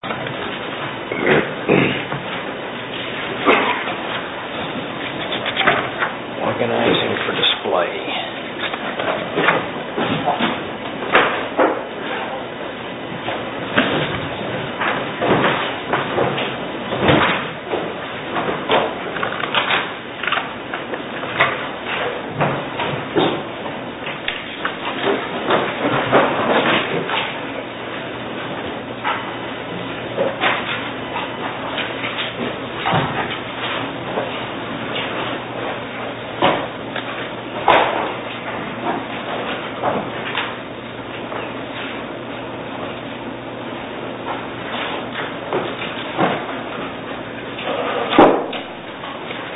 Organizing for display.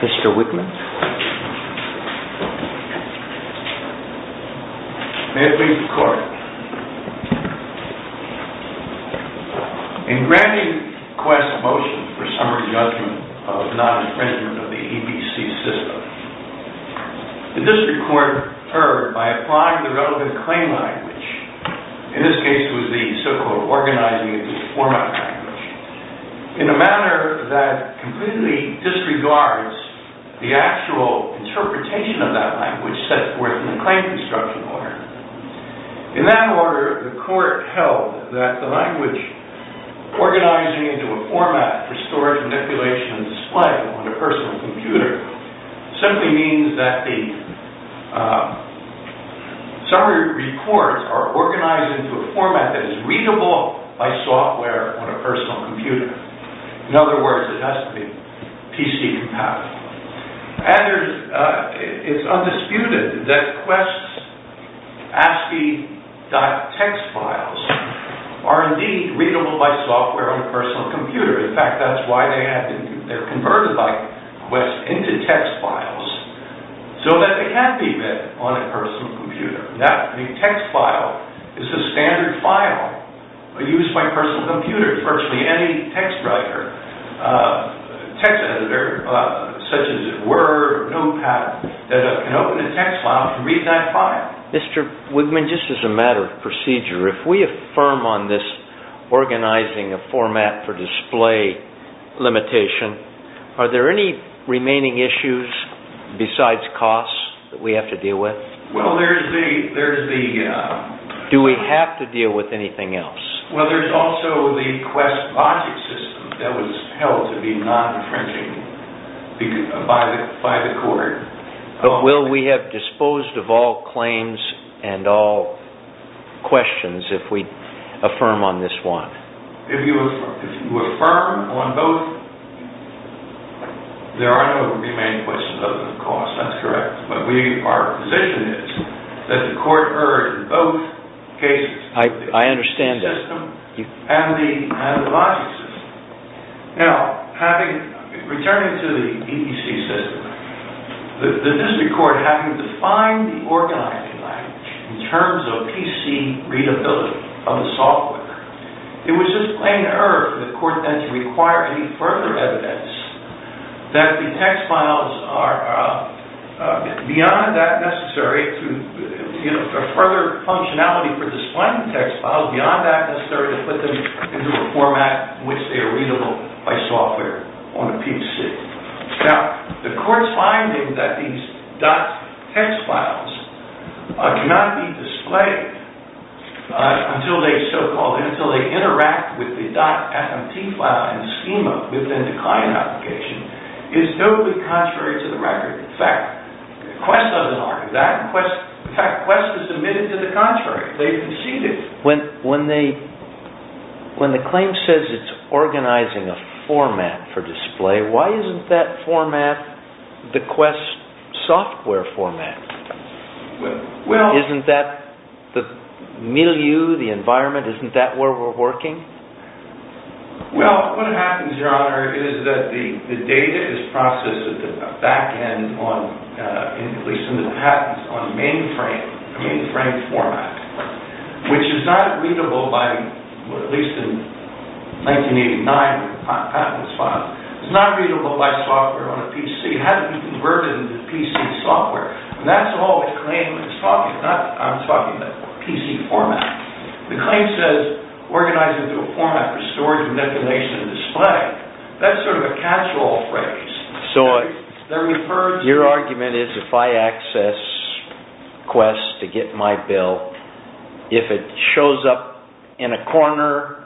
Mr. Whitman? May it please the court. In granting QWEST's motion for summary judgment of non-imprisonment of the EBC system, the district court heard by applying the relevant claim language, in this case it was the so-called organizing and deforming language, in a manner that completely disregards the actual interpretation of that language set forth in the claim construction order. In that order, the court held that the language organizing into a format for storage, manipulation, and display on a personal computer simply means that the summary reports are organized into a format that is readable by software on a personal computer. In other words, it has to be PC compatible. And it's undisputed that QWEST's ASCII.txt files are indeed readable by software on a personal computer. In fact, that's why they're converted by QWEST into text files, so that they can be read on a personal computer. Now, a text file is a standard file used by personal computers. Virtually any text editor, such as Word or Notepad, can open a text file and read that file. Mr. Wigman, just as a matter of procedure, if we affirm on this organizing a format for display limitation, are there any remaining issues besides costs that we have to deal with? Well, there's the... Do we have to deal with anything else? Well, there's also the QWEST logic system that was held to be non-differentiating by the court. But will we have disposed of all claims and all questions if we affirm on this one? If you affirm on both, there are no remaining questions other than costs. That's correct. But our position is that the court heard both cases. I understand that. The system and the logic system. Now, returning to the EEC system, the district court having defined the organizing language in terms of PC readability of the software, it was just plain error for the court then to require any further evidence that the text files are beyond that necessary, or further functionality for displaying the text files beyond that necessary, to put them into a format in which they are readable by software on a PC. Now, the court's finding that these .txt files cannot be displayed until they interact with the .fmt file in the schema within the client application is totally contrary to the record. In fact, QWEST doesn't argue that. In fact, QWEST has admitted to the contrary. They've conceded. When the claim says it's organizing a format for display, why isn't that format the QWEST software format? Isn't that the milieu, the environment, isn't that where we're working? Well, what happens, Your Honor, is that the data is processed at the back end, at least in the patents, on a mainframe format, which is not readable by, at least in 1989, patents files. It's not readable by software on a PC. It hasn't been converted into PC software. And that's all the claim is talking about. I'm talking about PC format. The claim says organize it into a format for storage and decimation and display. That's sort of a catch-all phrase. So, your argument is if I access QWEST to get my bill, if it shows up in a corner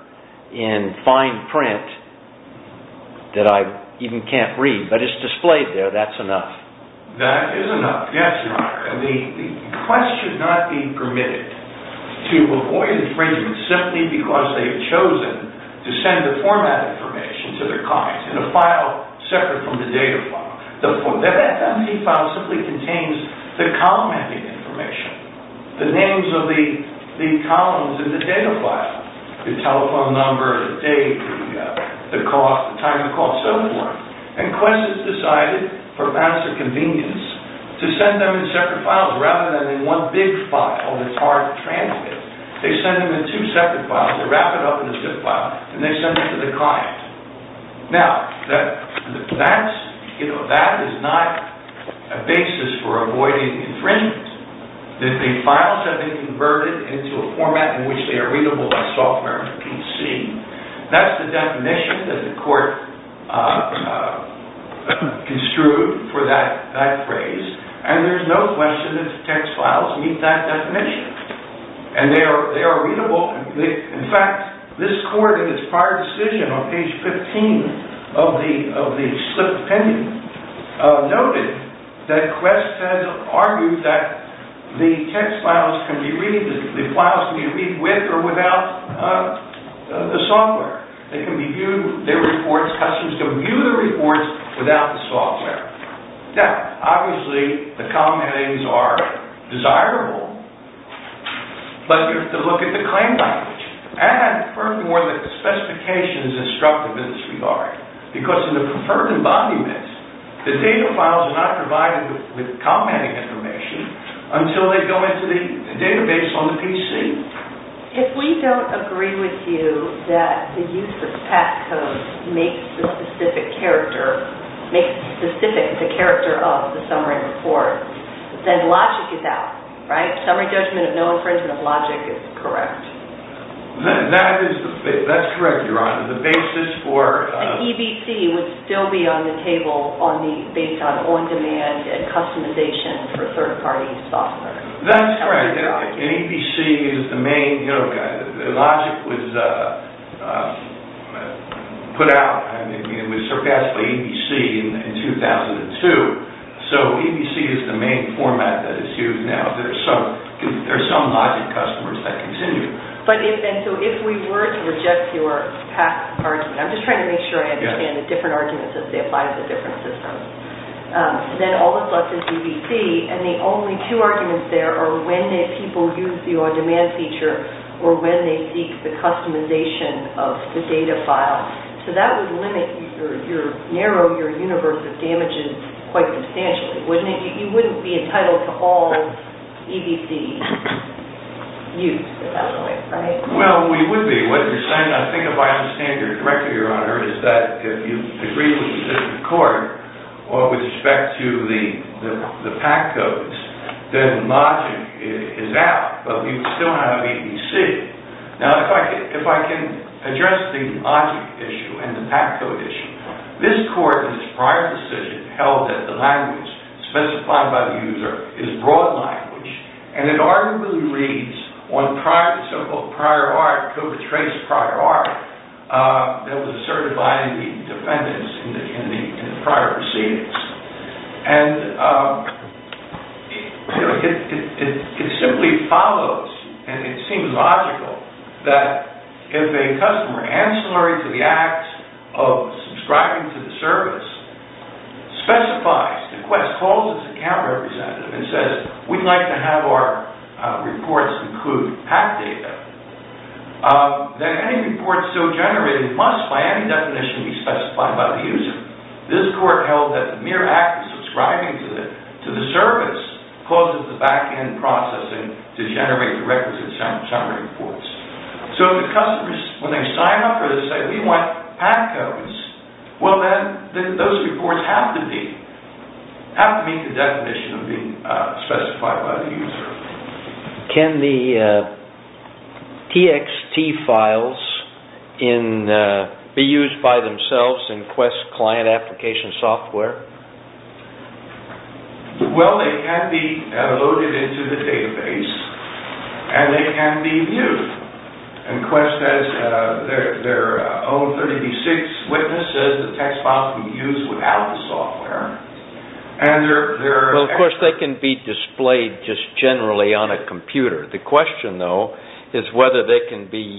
in fine print that I even can't read, but it's displayed there, that's enough. That is enough, yes, Your Honor. The QWEST should not be permitted to avoid infringement simply because they have chosen to send the format information to their clients in a file separate from the data file. The FFMD file simply contains the column ending information, the names of the columns in the data file, the telephone number, the date, the time of the call, so forth. And QWEST has decided, perhaps for convenience, to send them in separate files rather than in one big file that's hard to translate. They send them in two separate files, they wrap it up in a zip file, and they send it to the client. Now, that is not a basis for avoiding infringement. The files have been converted into a format in which they are readable by software on a PC. That's the definition that the court construed for that phrase, and there's no question that the text files meet that definition. And they are readable. In fact, this court, in its prior decision on page 15 of the slip of the pen, noted that QWEST has argued that the text files can be read, the files can be read with or without the software. They can be viewed, their reports, customers can view the reports without the software. Now, obviously, the column endings are desirable, but you have to look at the claim language. And, furthermore, the specifications instructive in this regard. Because in the preferred embodiments, the data files are not provided with commenting information until they go into the database on the PC. If we don't agree with you that the use of passcode makes the specific character of the summary report, then logic is out, right? That's correct, Your Honor. The basis for... The EBC would still be on the table based on on-demand and customization for third-party software. That's correct. And EBC is the main... The logic was put out, and it was surpassed by EBC in 2002. So, EBC is the main format that is used now. There are some logic customers that continue. But if we were to reject your argument, I'm just trying to make sure I understand the different arguments as they apply to the different systems, then all that's left is EBC. And the only two arguments there are when people use the on-demand feature or when they seek the customization of the data file. So, that would narrow your universe of damages quite substantially, wouldn't it? You wouldn't be entitled to all EBC use at that point, right? Well, we would be. What you're saying, I think, if I understand correctly, Your Honor, is that if you agree with the court with respect to the passcodes, then logic is out, but we still have EBC. Now, if I can address the logic issue and the passcode issue, this court, in its prior decision, held that the language specified by the user is broad language. And it arguably reads on so-called prior art, co-betraced prior art, that was asserted by the defendants in the prior proceedings. And it simply follows, and it seems logical, that if a customer ancillary to the act of subscribing to the service specifies, requests, calls its account representative, and says, we'd like to have our reports include PAC data, then any reports still generated must, by any definition, be specified by the user. This court held that the mere act of subscribing to the service causes the back-end processing to generate the requisite summary reports. So if the customers, when they sign up, say, we want PAC codes, well then, those reports have to be, have to meet the definition of being specified by the user. Can the TXT files be used by themselves in Quest client application software? Well, they can be loaded into the database, and they can be viewed. And Quest has their own 36 witnesses, the TXT files can be used without the software. Well, of course, they can be displayed just generally on a computer. The question, though, is whether they can be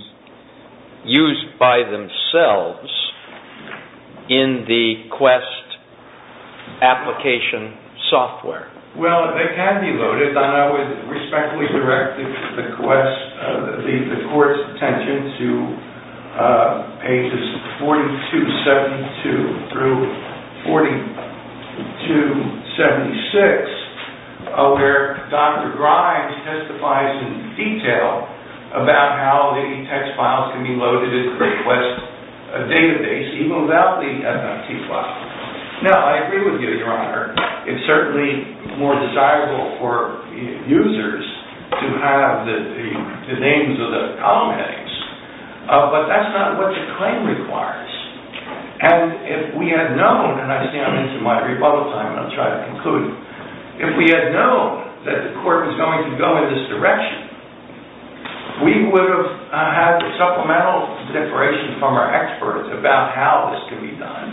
used by themselves in the Quest application software. Well, they can be loaded. And I would respectfully direct the Court's attention to pages 4272 through 4276, where Dr. Grimes testifies in detail about how the TXT files can be loaded into the Quest database, even without the FMT file. Now, I agree with you, Your Honor. It's certainly more desirable for users to have the names of the problematics. But that's not what the claim requires. And if we had known, and I say this in my rebuttal time, and I'll try to conclude, if we had known that the Court was going to go in this direction, we would have had supplemental information from our experts about how this could be done,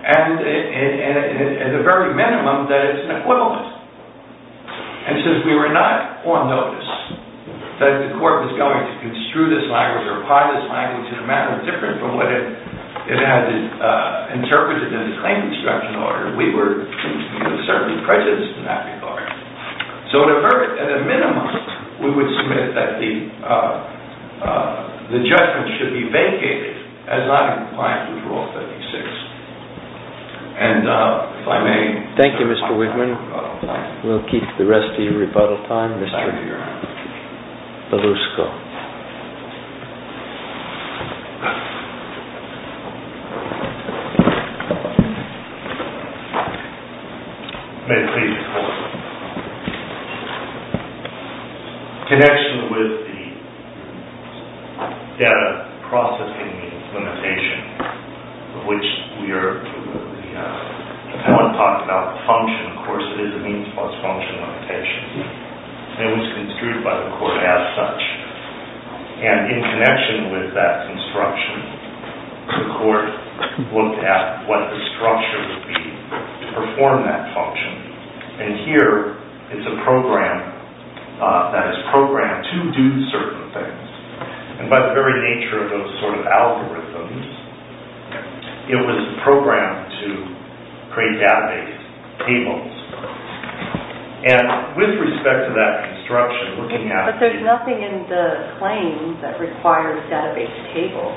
and at the very minimum, that it's an equivalent. And since we were not on notice that the Court was going to construe this language or apply this language in a manner different from what it had interpreted in the claim construction order, we were certainly prejudiced in that regard. So at a minimum, we would submit that the judgment should be vacated as not in compliance with Rule 56. And if I may... Thank you, Mr. Wigman. We'll keep the rest of your rebuttal time, Mr. Belusco. May it please the Court. In connection with the data processing limitation, of which we are... I want to talk about the function. Of course, it is a means plus function limitation. And it was construed by the Court as such. And in connection with that construction, the Court looked at what the structure would be to perform that function. And here, it's a program that is programmed to do certain things. And by the very nature of those sort of algorithms, it was programmed to create database tables. And with respect to that construction, looking at... There's nothing in the claims that requires database tables.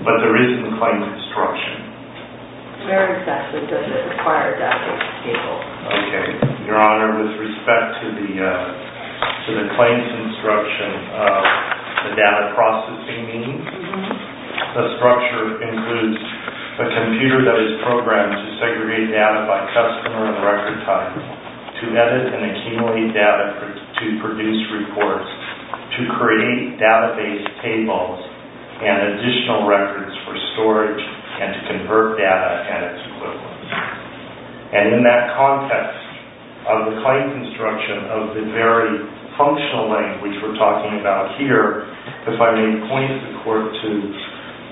But there is in the claims construction. Where exactly does it require database tables? Okay. Your Honor, with respect to the claims construction, the data processing means, the structure includes a computer that is programmed to segregate data by customer and record time, to edit and accumulate data to produce reports, to create database tables and additional records for storage, and to convert data at its equivalent. And in that context of the claims construction, of the very functional language we're talking about here, if I may point the Court to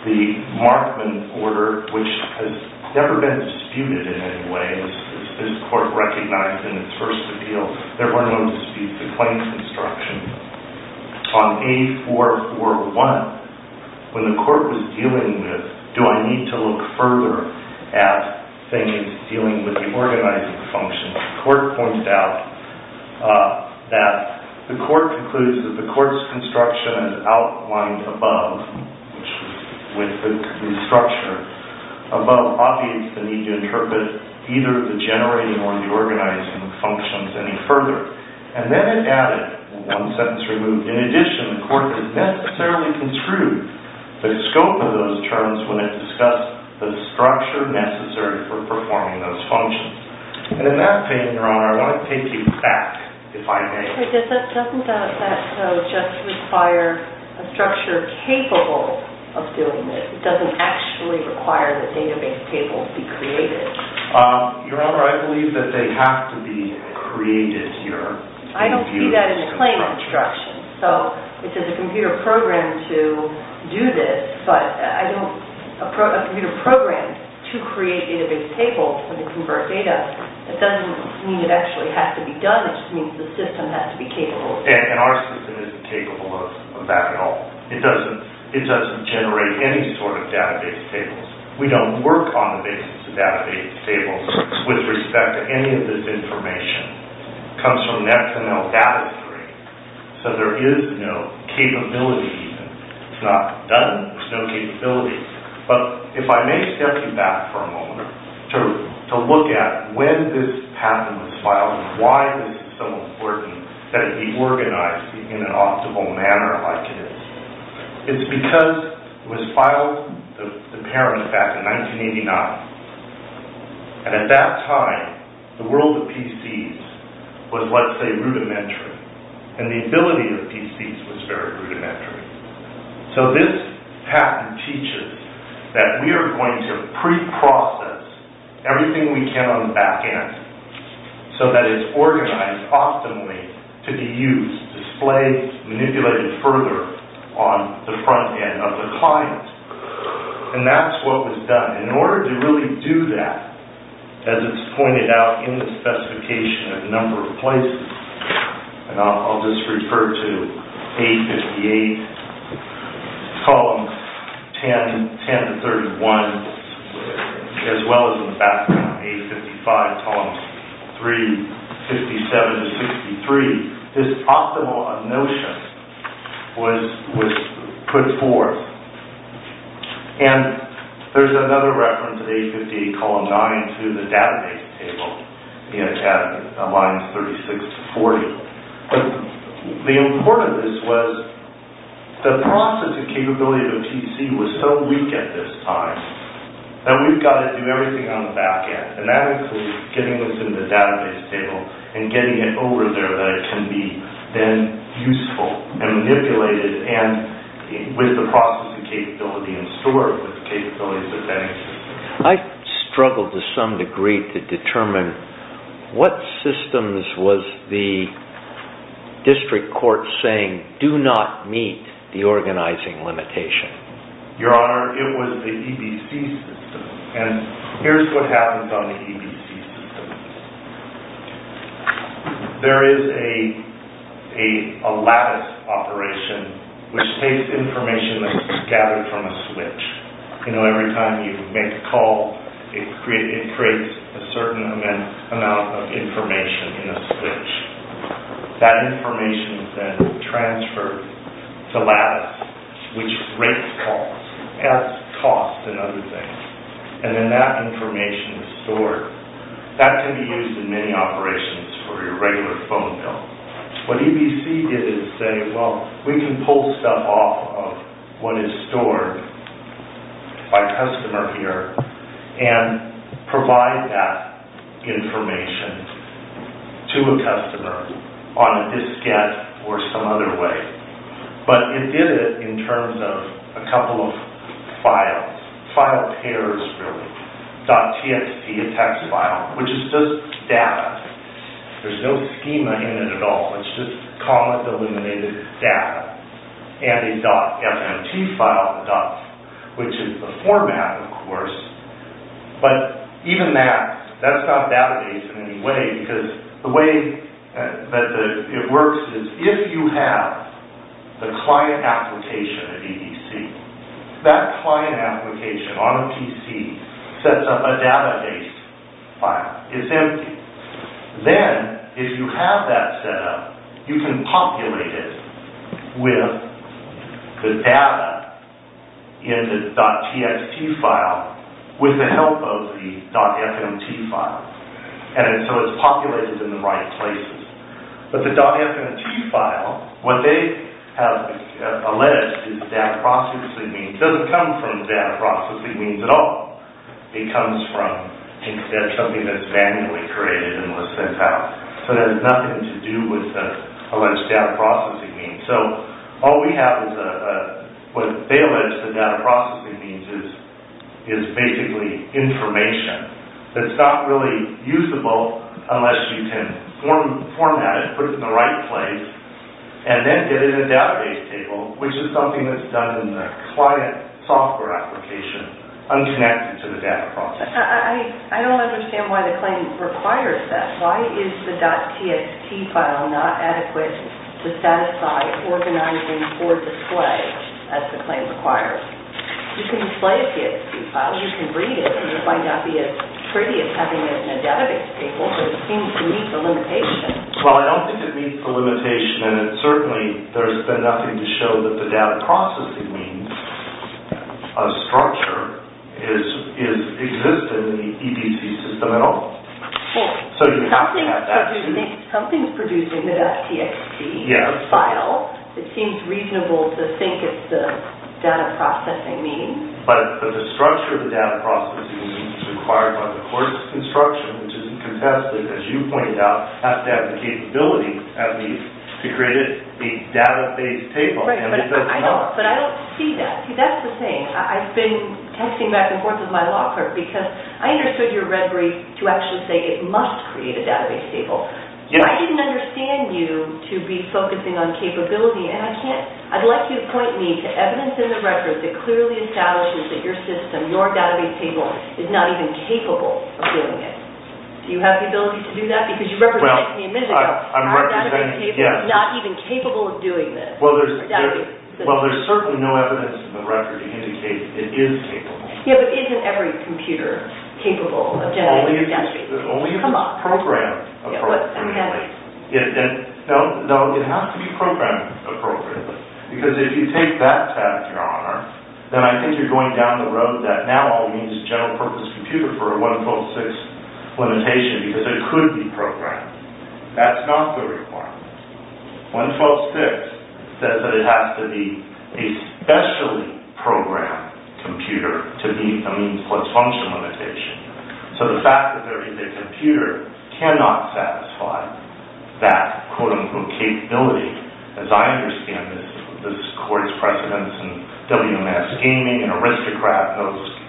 the Markman order, which has never been disputed in any way. As this Court recognized in its first appeal, there were no disputes in claims construction. On A441, when the Court was dealing with, do I need to look further at things dealing with the organizing function, the Court points out that the Court concludes that the Court's construction is outlined above, with the structure. Above, obvious, the need to interpret either the generating or the organizing functions any further. And then it added, one sentence removed, in addition, the Court did not necessarily construe the scope of those terms when it discussed the structure necessary for performing those functions. And in that vein, Your Honor, I'd like to take you back, if I may. Doesn't that just require a structure capable of doing this? It doesn't actually require that database tables be created. Your Honor, I believe that they have to be created here. I don't see that in a claim construction. So, it's a computer program to do this, but a computer program to create database tables and to convert data, it doesn't mean it actually has to be done. It just means the system has to be capable. And our system isn't capable of that at all. It doesn't generate any sort of database tables. We don't work on the basis of database tables with respect to any of this information. It comes from XML data. So, there is no capability. It's not done. There's no capability. But, if I may step you back for a moment to look at when this patent was filed and why it is so important that it be organized in an optimal manner like it is. It's because it was filed, apparently, back in 1989. And at that time, the world of PCs was, let's say, rudimentary. And the ability of PCs was very rudimentary. So, this patent teaches that we are going to preprocess everything we can on the back end so that it's organized optimally to be used, displayed, manipulated further on the front end of the client. And that's what was done. In order to really do that, as it's pointed out in the specification at a number of places, and I'll just refer to A58, column 10, 10-31, as well as in the background, A55, column 3, 57-63, this optimal of notion was put forth. And there's another reference in A58, column 9, to the database table in line 36-40. The importance of this was the processing capability of a PC was so weak at this time that we've got to do everything on the back end. And that includes getting this in the database table and getting it over there so that it can be then useful and manipulated with the processing capability in store, with the capabilities of the database. I struggled to some degree to determine what systems was the district court saying do not meet the organizing limitation. Your Honor, it was the EBC system. And here's what happens on the EBC system. There is a lattice operation, which takes information that's gathered from a switch. You know, every time you make a call, it creates a certain amount of information in a switch. That information is then transferred to lattice, which rates calls, adds costs and other things. And then that information is stored. That can be used in many operations for your regular phone bill. What EBC did is say, well, we can pull stuff off of what is stored by customer here and provide that information to a customer on a diskette or some other way. But it did it in terms of a couple of files, file pairs really. .txt, a text file, which is just data. There's no schema in it at all. It's just comma-delimited data. And a .fmt file, which is the format, of course. But even that, that's not a database in any way because the way that it works is if you have the client application at EBC, that client application on a PC sets up a database file. It's empty. Then, if you have that set up, you can populate it with the data in the .txt file with the help of the .fmt file. And so it's populated in the right places. But the .fmt file, what they have alleged is data processing means. It doesn't come from data processing means at all. It comes from something that's manually created and was sent out. So it has nothing to do with the alleged data processing means. So all we have is what they allege the data processing means is basically information. It's not really usable unless you can format it, put it in the right place, and then get it in a database table, which is something that's done in the client software application unconnected to the data processing. I don't understand why the claim requires that. Why is the .txt file not adequate to satisfy organizing or display, as the claim requires? You can display a .txt file. You can read it. And you'll find out that it's pretty as having it in a database table. But it seems to meet the limitation. Well, I don't think it meets the limitation. And certainly, there's been nothing to show that the data processing means of structure is existing in the EDC system at all. Well, something's producing the .txt file. It seems reasonable to think it's the data processing means. But the structure of the data processing means required by the court's instruction, which is contested, as you pointed out, has to have the capability, at least, to create a database table. But I don't see that. See, that's the thing. I've been texting back and forth with my law clerk because I understood your rhetoric to actually say it must create a database table. I didn't understand you to be focusing on capability. And I'd like you to point me to evidence in the record that clearly establishes that your system, your database table, is not even capable of doing it. Do you have the ability to do that? Because you represented it to me a minute ago. Our database table is not even capable of doing this. Well, there's certainly no evidence in the record to indicate it is capable. Yeah, but isn't every computer capable of generating a database table? Only if it's programmed appropriately. No, it has to be programmed appropriately. Because if you take that tab, Your Honor, then I think you're going down the road that now all we need is a general-purpose computer for a 112.6 limitation because it could be programmed. That's not the requirement. 112.6 says that it has to be a specially programmed computer to meet the means plus function limitation. So the fact that there is a computer cannot satisfy that, quote-unquote, capability. As I understand it, this is court's precedence in WMS gaming and aristocrat,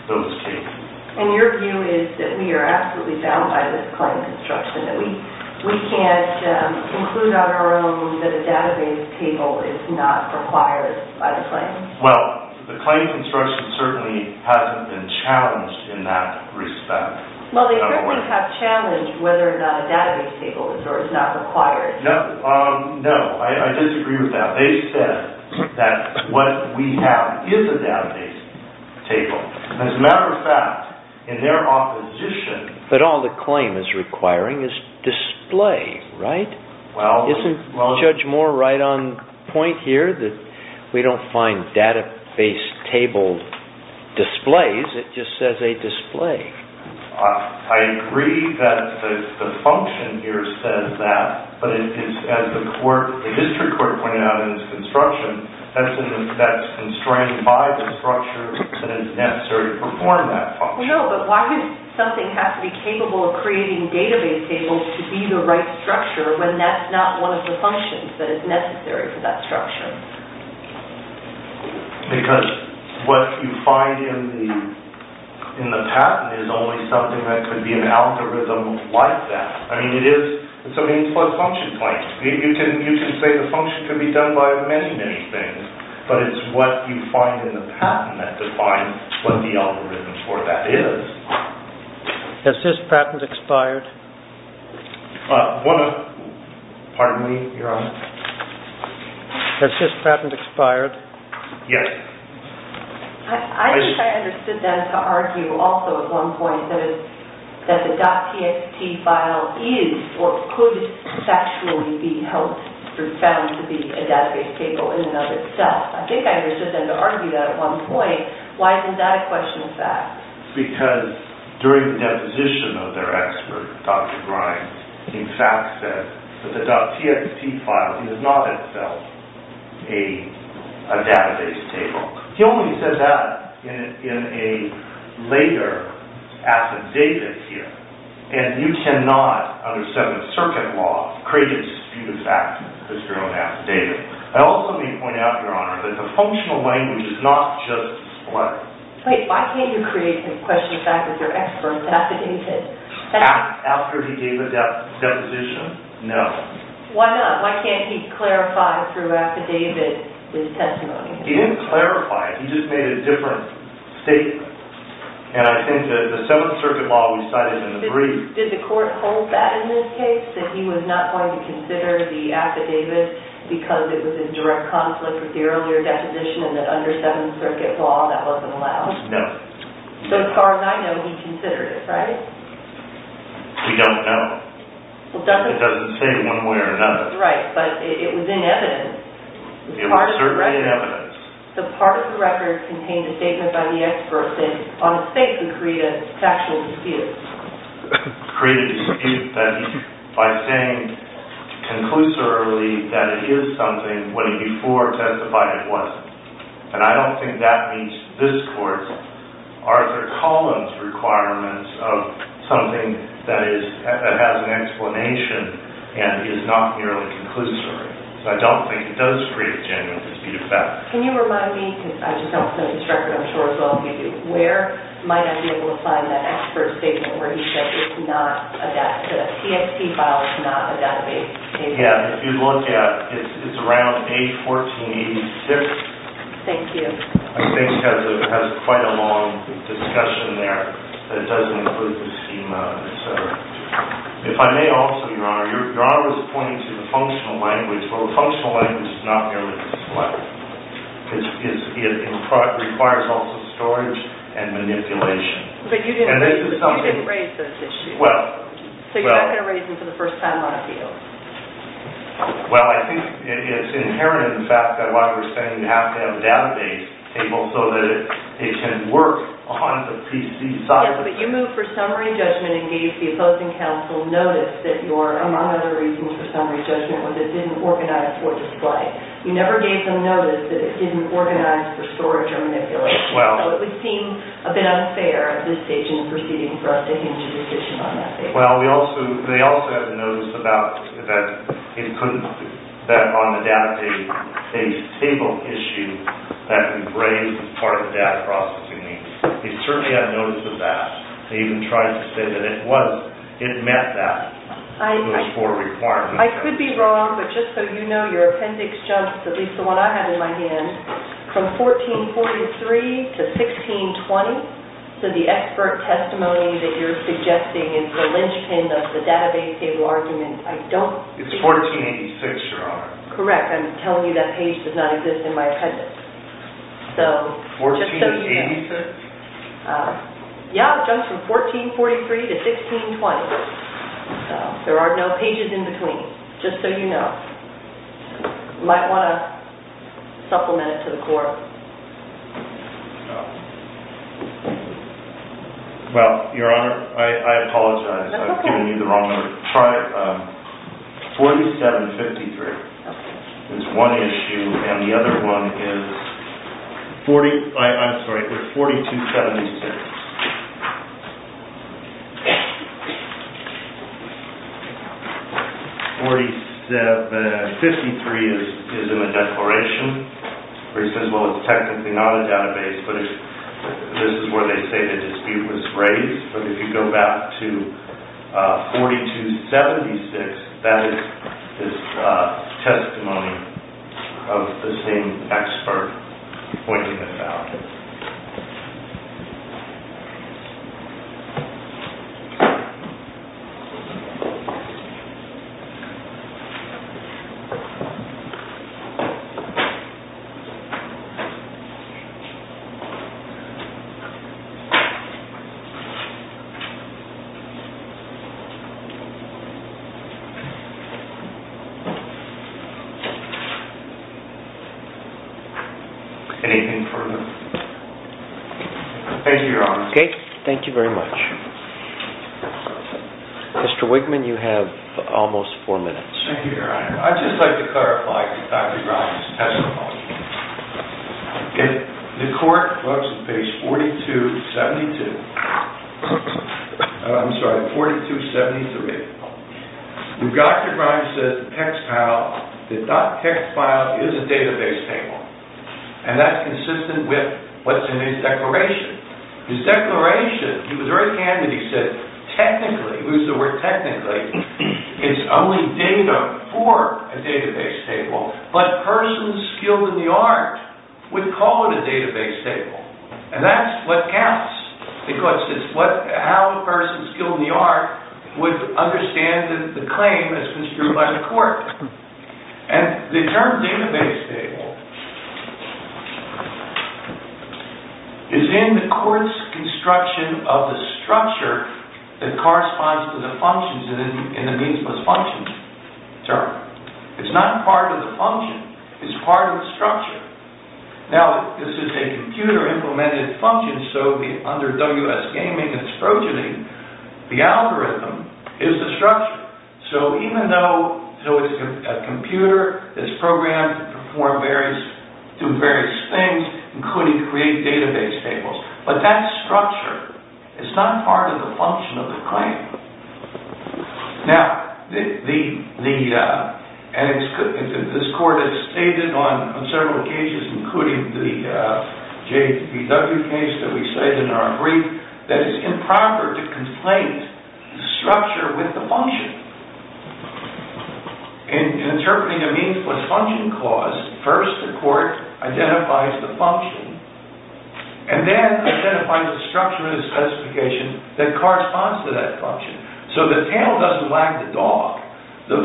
those cases. And your view is that we are absolutely bound by this claim construction, that we can't conclude on our own that a database table is not required by the claim? Well, the claim construction certainly hasn't been challenged in that respect. Well, they certainly have challenged whether or not a database table is not required. No, I disagree with that. They said that what we have is a database table. As a matter of fact, in their opposition... But all the claim is requiring is display, right? Isn't Judge Moore right on point here that we don't find database table displays? It just says a display. I agree that the function here says that, but as the district court pointed out in its construction, that's constrained by the structure that is necessary to perform that function. No, but why would something have to be capable of creating database tables to be the right structure when that's not one of the functions that is necessary for that structure? Because what you find in the patent is only something that could be an algorithm like that. I mean, it's a means plus function claim. You can say the function could be done by many, many things, but it's what you find in the patent that defines what the algorithm for that is. Has this patent expired? Pardon me? You're on. Has this patent expired? Yes. I think I understood them to argue also at one point that the .txt file is, or could sexually be held to be a database table in and of itself. I think I understood them to argue that at one point. Why isn't that a question of fact? Because during the deposition of their expert, Dr. Grimes, he in fact said that the .txt file is not itself a database table. He only said that in a later affidavit here, and you cannot, under Seventh Circuit law, create a disputed fact as your own affidavit. I also need to point out, Your Honor, that the functional language is not just what. Wait, why can't you create the question of fact as your expert affidavit? After he gave the deposition? No. Why not? Why can't he clarify through affidavit his testimony? He didn't clarify. He just made a different statement. And I think that the Seventh Circuit law, we cite it in the brief. Did the court hold that in this case, that he was not going to consider the affidavit because it was in direct conflict with the earlier deposition and that under Seventh Circuit law that wasn't allowed? No. So as far as I know, he considered it, right? We don't know. It doesn't say one way or another. Right, but it was in evidence. It was certainly in evidence. So part of the record contained a statement by the expert that on its face would create a factual dispute. Create a dispute by saying conclusorily that it is something when he before testified it wasn't. And I don't think that meets this court's, Arthur Collins' requirements of something that has an explanation and is not merely conclusory. So I don't think it does create a genuine dispute of fact. Can you remind me, because I just don't have this record, I'm sure as well as you do, where might I be able to find that expert statement where he said it's not a database, that a CST file is not a database? Yeah, if you look at, it's around page 1486. Thank you. I think it has quite a long discussion there that doesn't include the schema. If I may also, Your Honor, Your Honor was pointing to the functional language. Well, the functional language is not merely dyslexic. It requires also storage and manipulation. But you didn't raise those issues. Well, well. So you're not going to raise them for the first time on appeal. Well, I think it's inherent in the fact that why we're saying you have to have a database table so that it can work on the PC side. Yes, but you moved for summary judgment and gave the opposing counsel notice that your, among other reasons for summary judgment, was it didn't organize or display. You never gave them notice that it didn't organize for storage or manipulation. So it would seem a bit unfair at this stage in the proceeding for us to hinge a decision on that. Well, we also, they also had a notice about that it couldn't, that on the database table issue that we raised as part of the data processing. They certainly had notice of that. They even tried to say that it was, it met that, those four requirements. I could be wrong, but just so you know, your appendix jumps, at least the one I have in my hand, from 1443 to 1620. So the expert testimony that you're suggesting is the linchpin of the database table argument. It's 1486, Your Honor. Correct. I'm telling you that page does not exist in my appendix. So just so you know. 1486? Yeah, it jumps from 1443 to 1620. There are no pages in between. Just so you know. You might want to supplement it to the court. Well, Your Honor, I apologize. I've given you the wrong number. 4753 is one issue, and the other one is 40, I'm sorry, there's 4276. 4753 is in the declaration where it says, well, it's technically not a database, but this is where they say the dispute was raised. But if you go back to 4276, that is this testimony of the same expert pointing it out. Thank you. Anything further? Thank you, Your Honor. Okay. Thank you very much. Mr. Wigman, you have almost four minutes. Thank you, Your Honor. I'd just like to clarify Dr. Grimes' testimony. The court looks at page 4272, I'm sorry, 4273. When Dr. Grimes says text file, the .txt file is a database table. And that's consistent with what's in his declaration. His declaration, he was very candid. He said technically, he used the word technically, it's only data for a database table, but persons skilled in the art would call it a database table. And that's what counts. The court says how a person skilled in the art would understand the claim that's been strewn by the court. And the term database table is in the court's construction of the structure that corresponds to the functions in the means-plus-functions term. It's not part of the function. It's part of the structure. Now, this is a computer-implemented function, so under WS Gaming and its progeny, the algorithm is the structure. So even though it's a computer, it's programmed to do various things, including create database tables, but that structure is not part of the function of the claim. And this court has stated on several occasions, including the JPW case that we cited in our brief, that it's improper to complaint the structure with the function. In interpreting a means-plus-function clause, first the court identifies the function, and then identifies the structure and the specification that corresponds to that function. So the tail doesn't wag the dog. The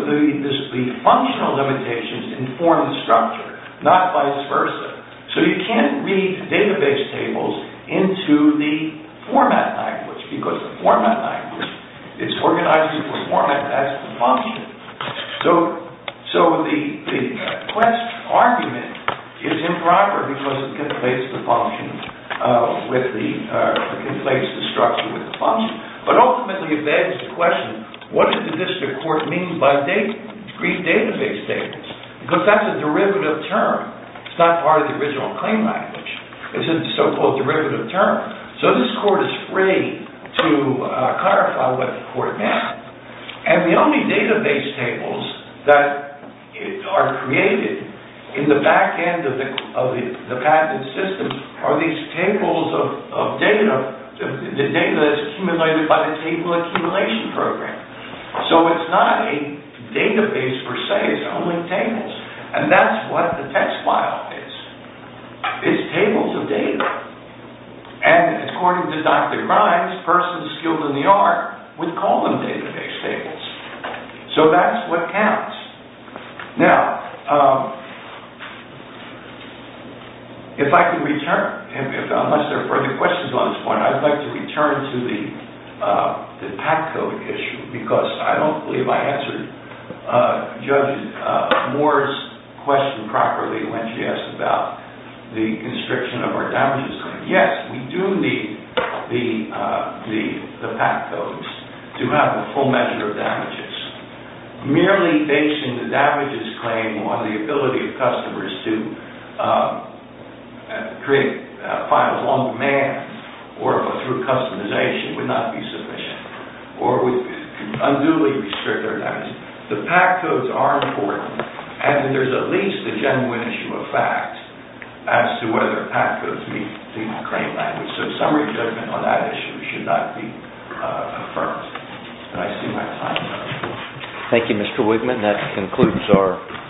functional limitations inform the structure, not vice versa. So you can't read database tables into the format language, because the format language is organized into a format. That's the function. So the quest argument is improper, because it conflates the structure with the function. But ultimately, it begs the question, what does the district court mean by read database tables? Because that's a derivative term. It's not part of the original claim language. It's a so-called derivative term. So this court is free to clarify what the court meant. And the only database tables that are created in the back end of the patent system are these tables of data, the data that's accumulated by the table accumulation program. So it's not a database, per se. It's only tables. And that's what the text file is. It's tables of data. And according to Dr. Grimes, persons skilled in the art would call them database tables. So that's what counts. Now, if I can return, unless there are further questions on this point, I'd like to return to the PAC code issue, because I don't believe I answered Judge Moore's question properly when she asked about the constriction of our damages. Yes, we do need the PAC codes to have the full measure of damages. Merely basing the damages claim on the ability of customers to create a file on demand or through customization would not be sufficient. Or we unduly restrict our damages. The PAC codes are important. And there's at least a genuine issue of fact as to whether PAC codes meet the claim language. So summary judgment on that issue should not be affirmed. And I see my time is up. That concludes our session.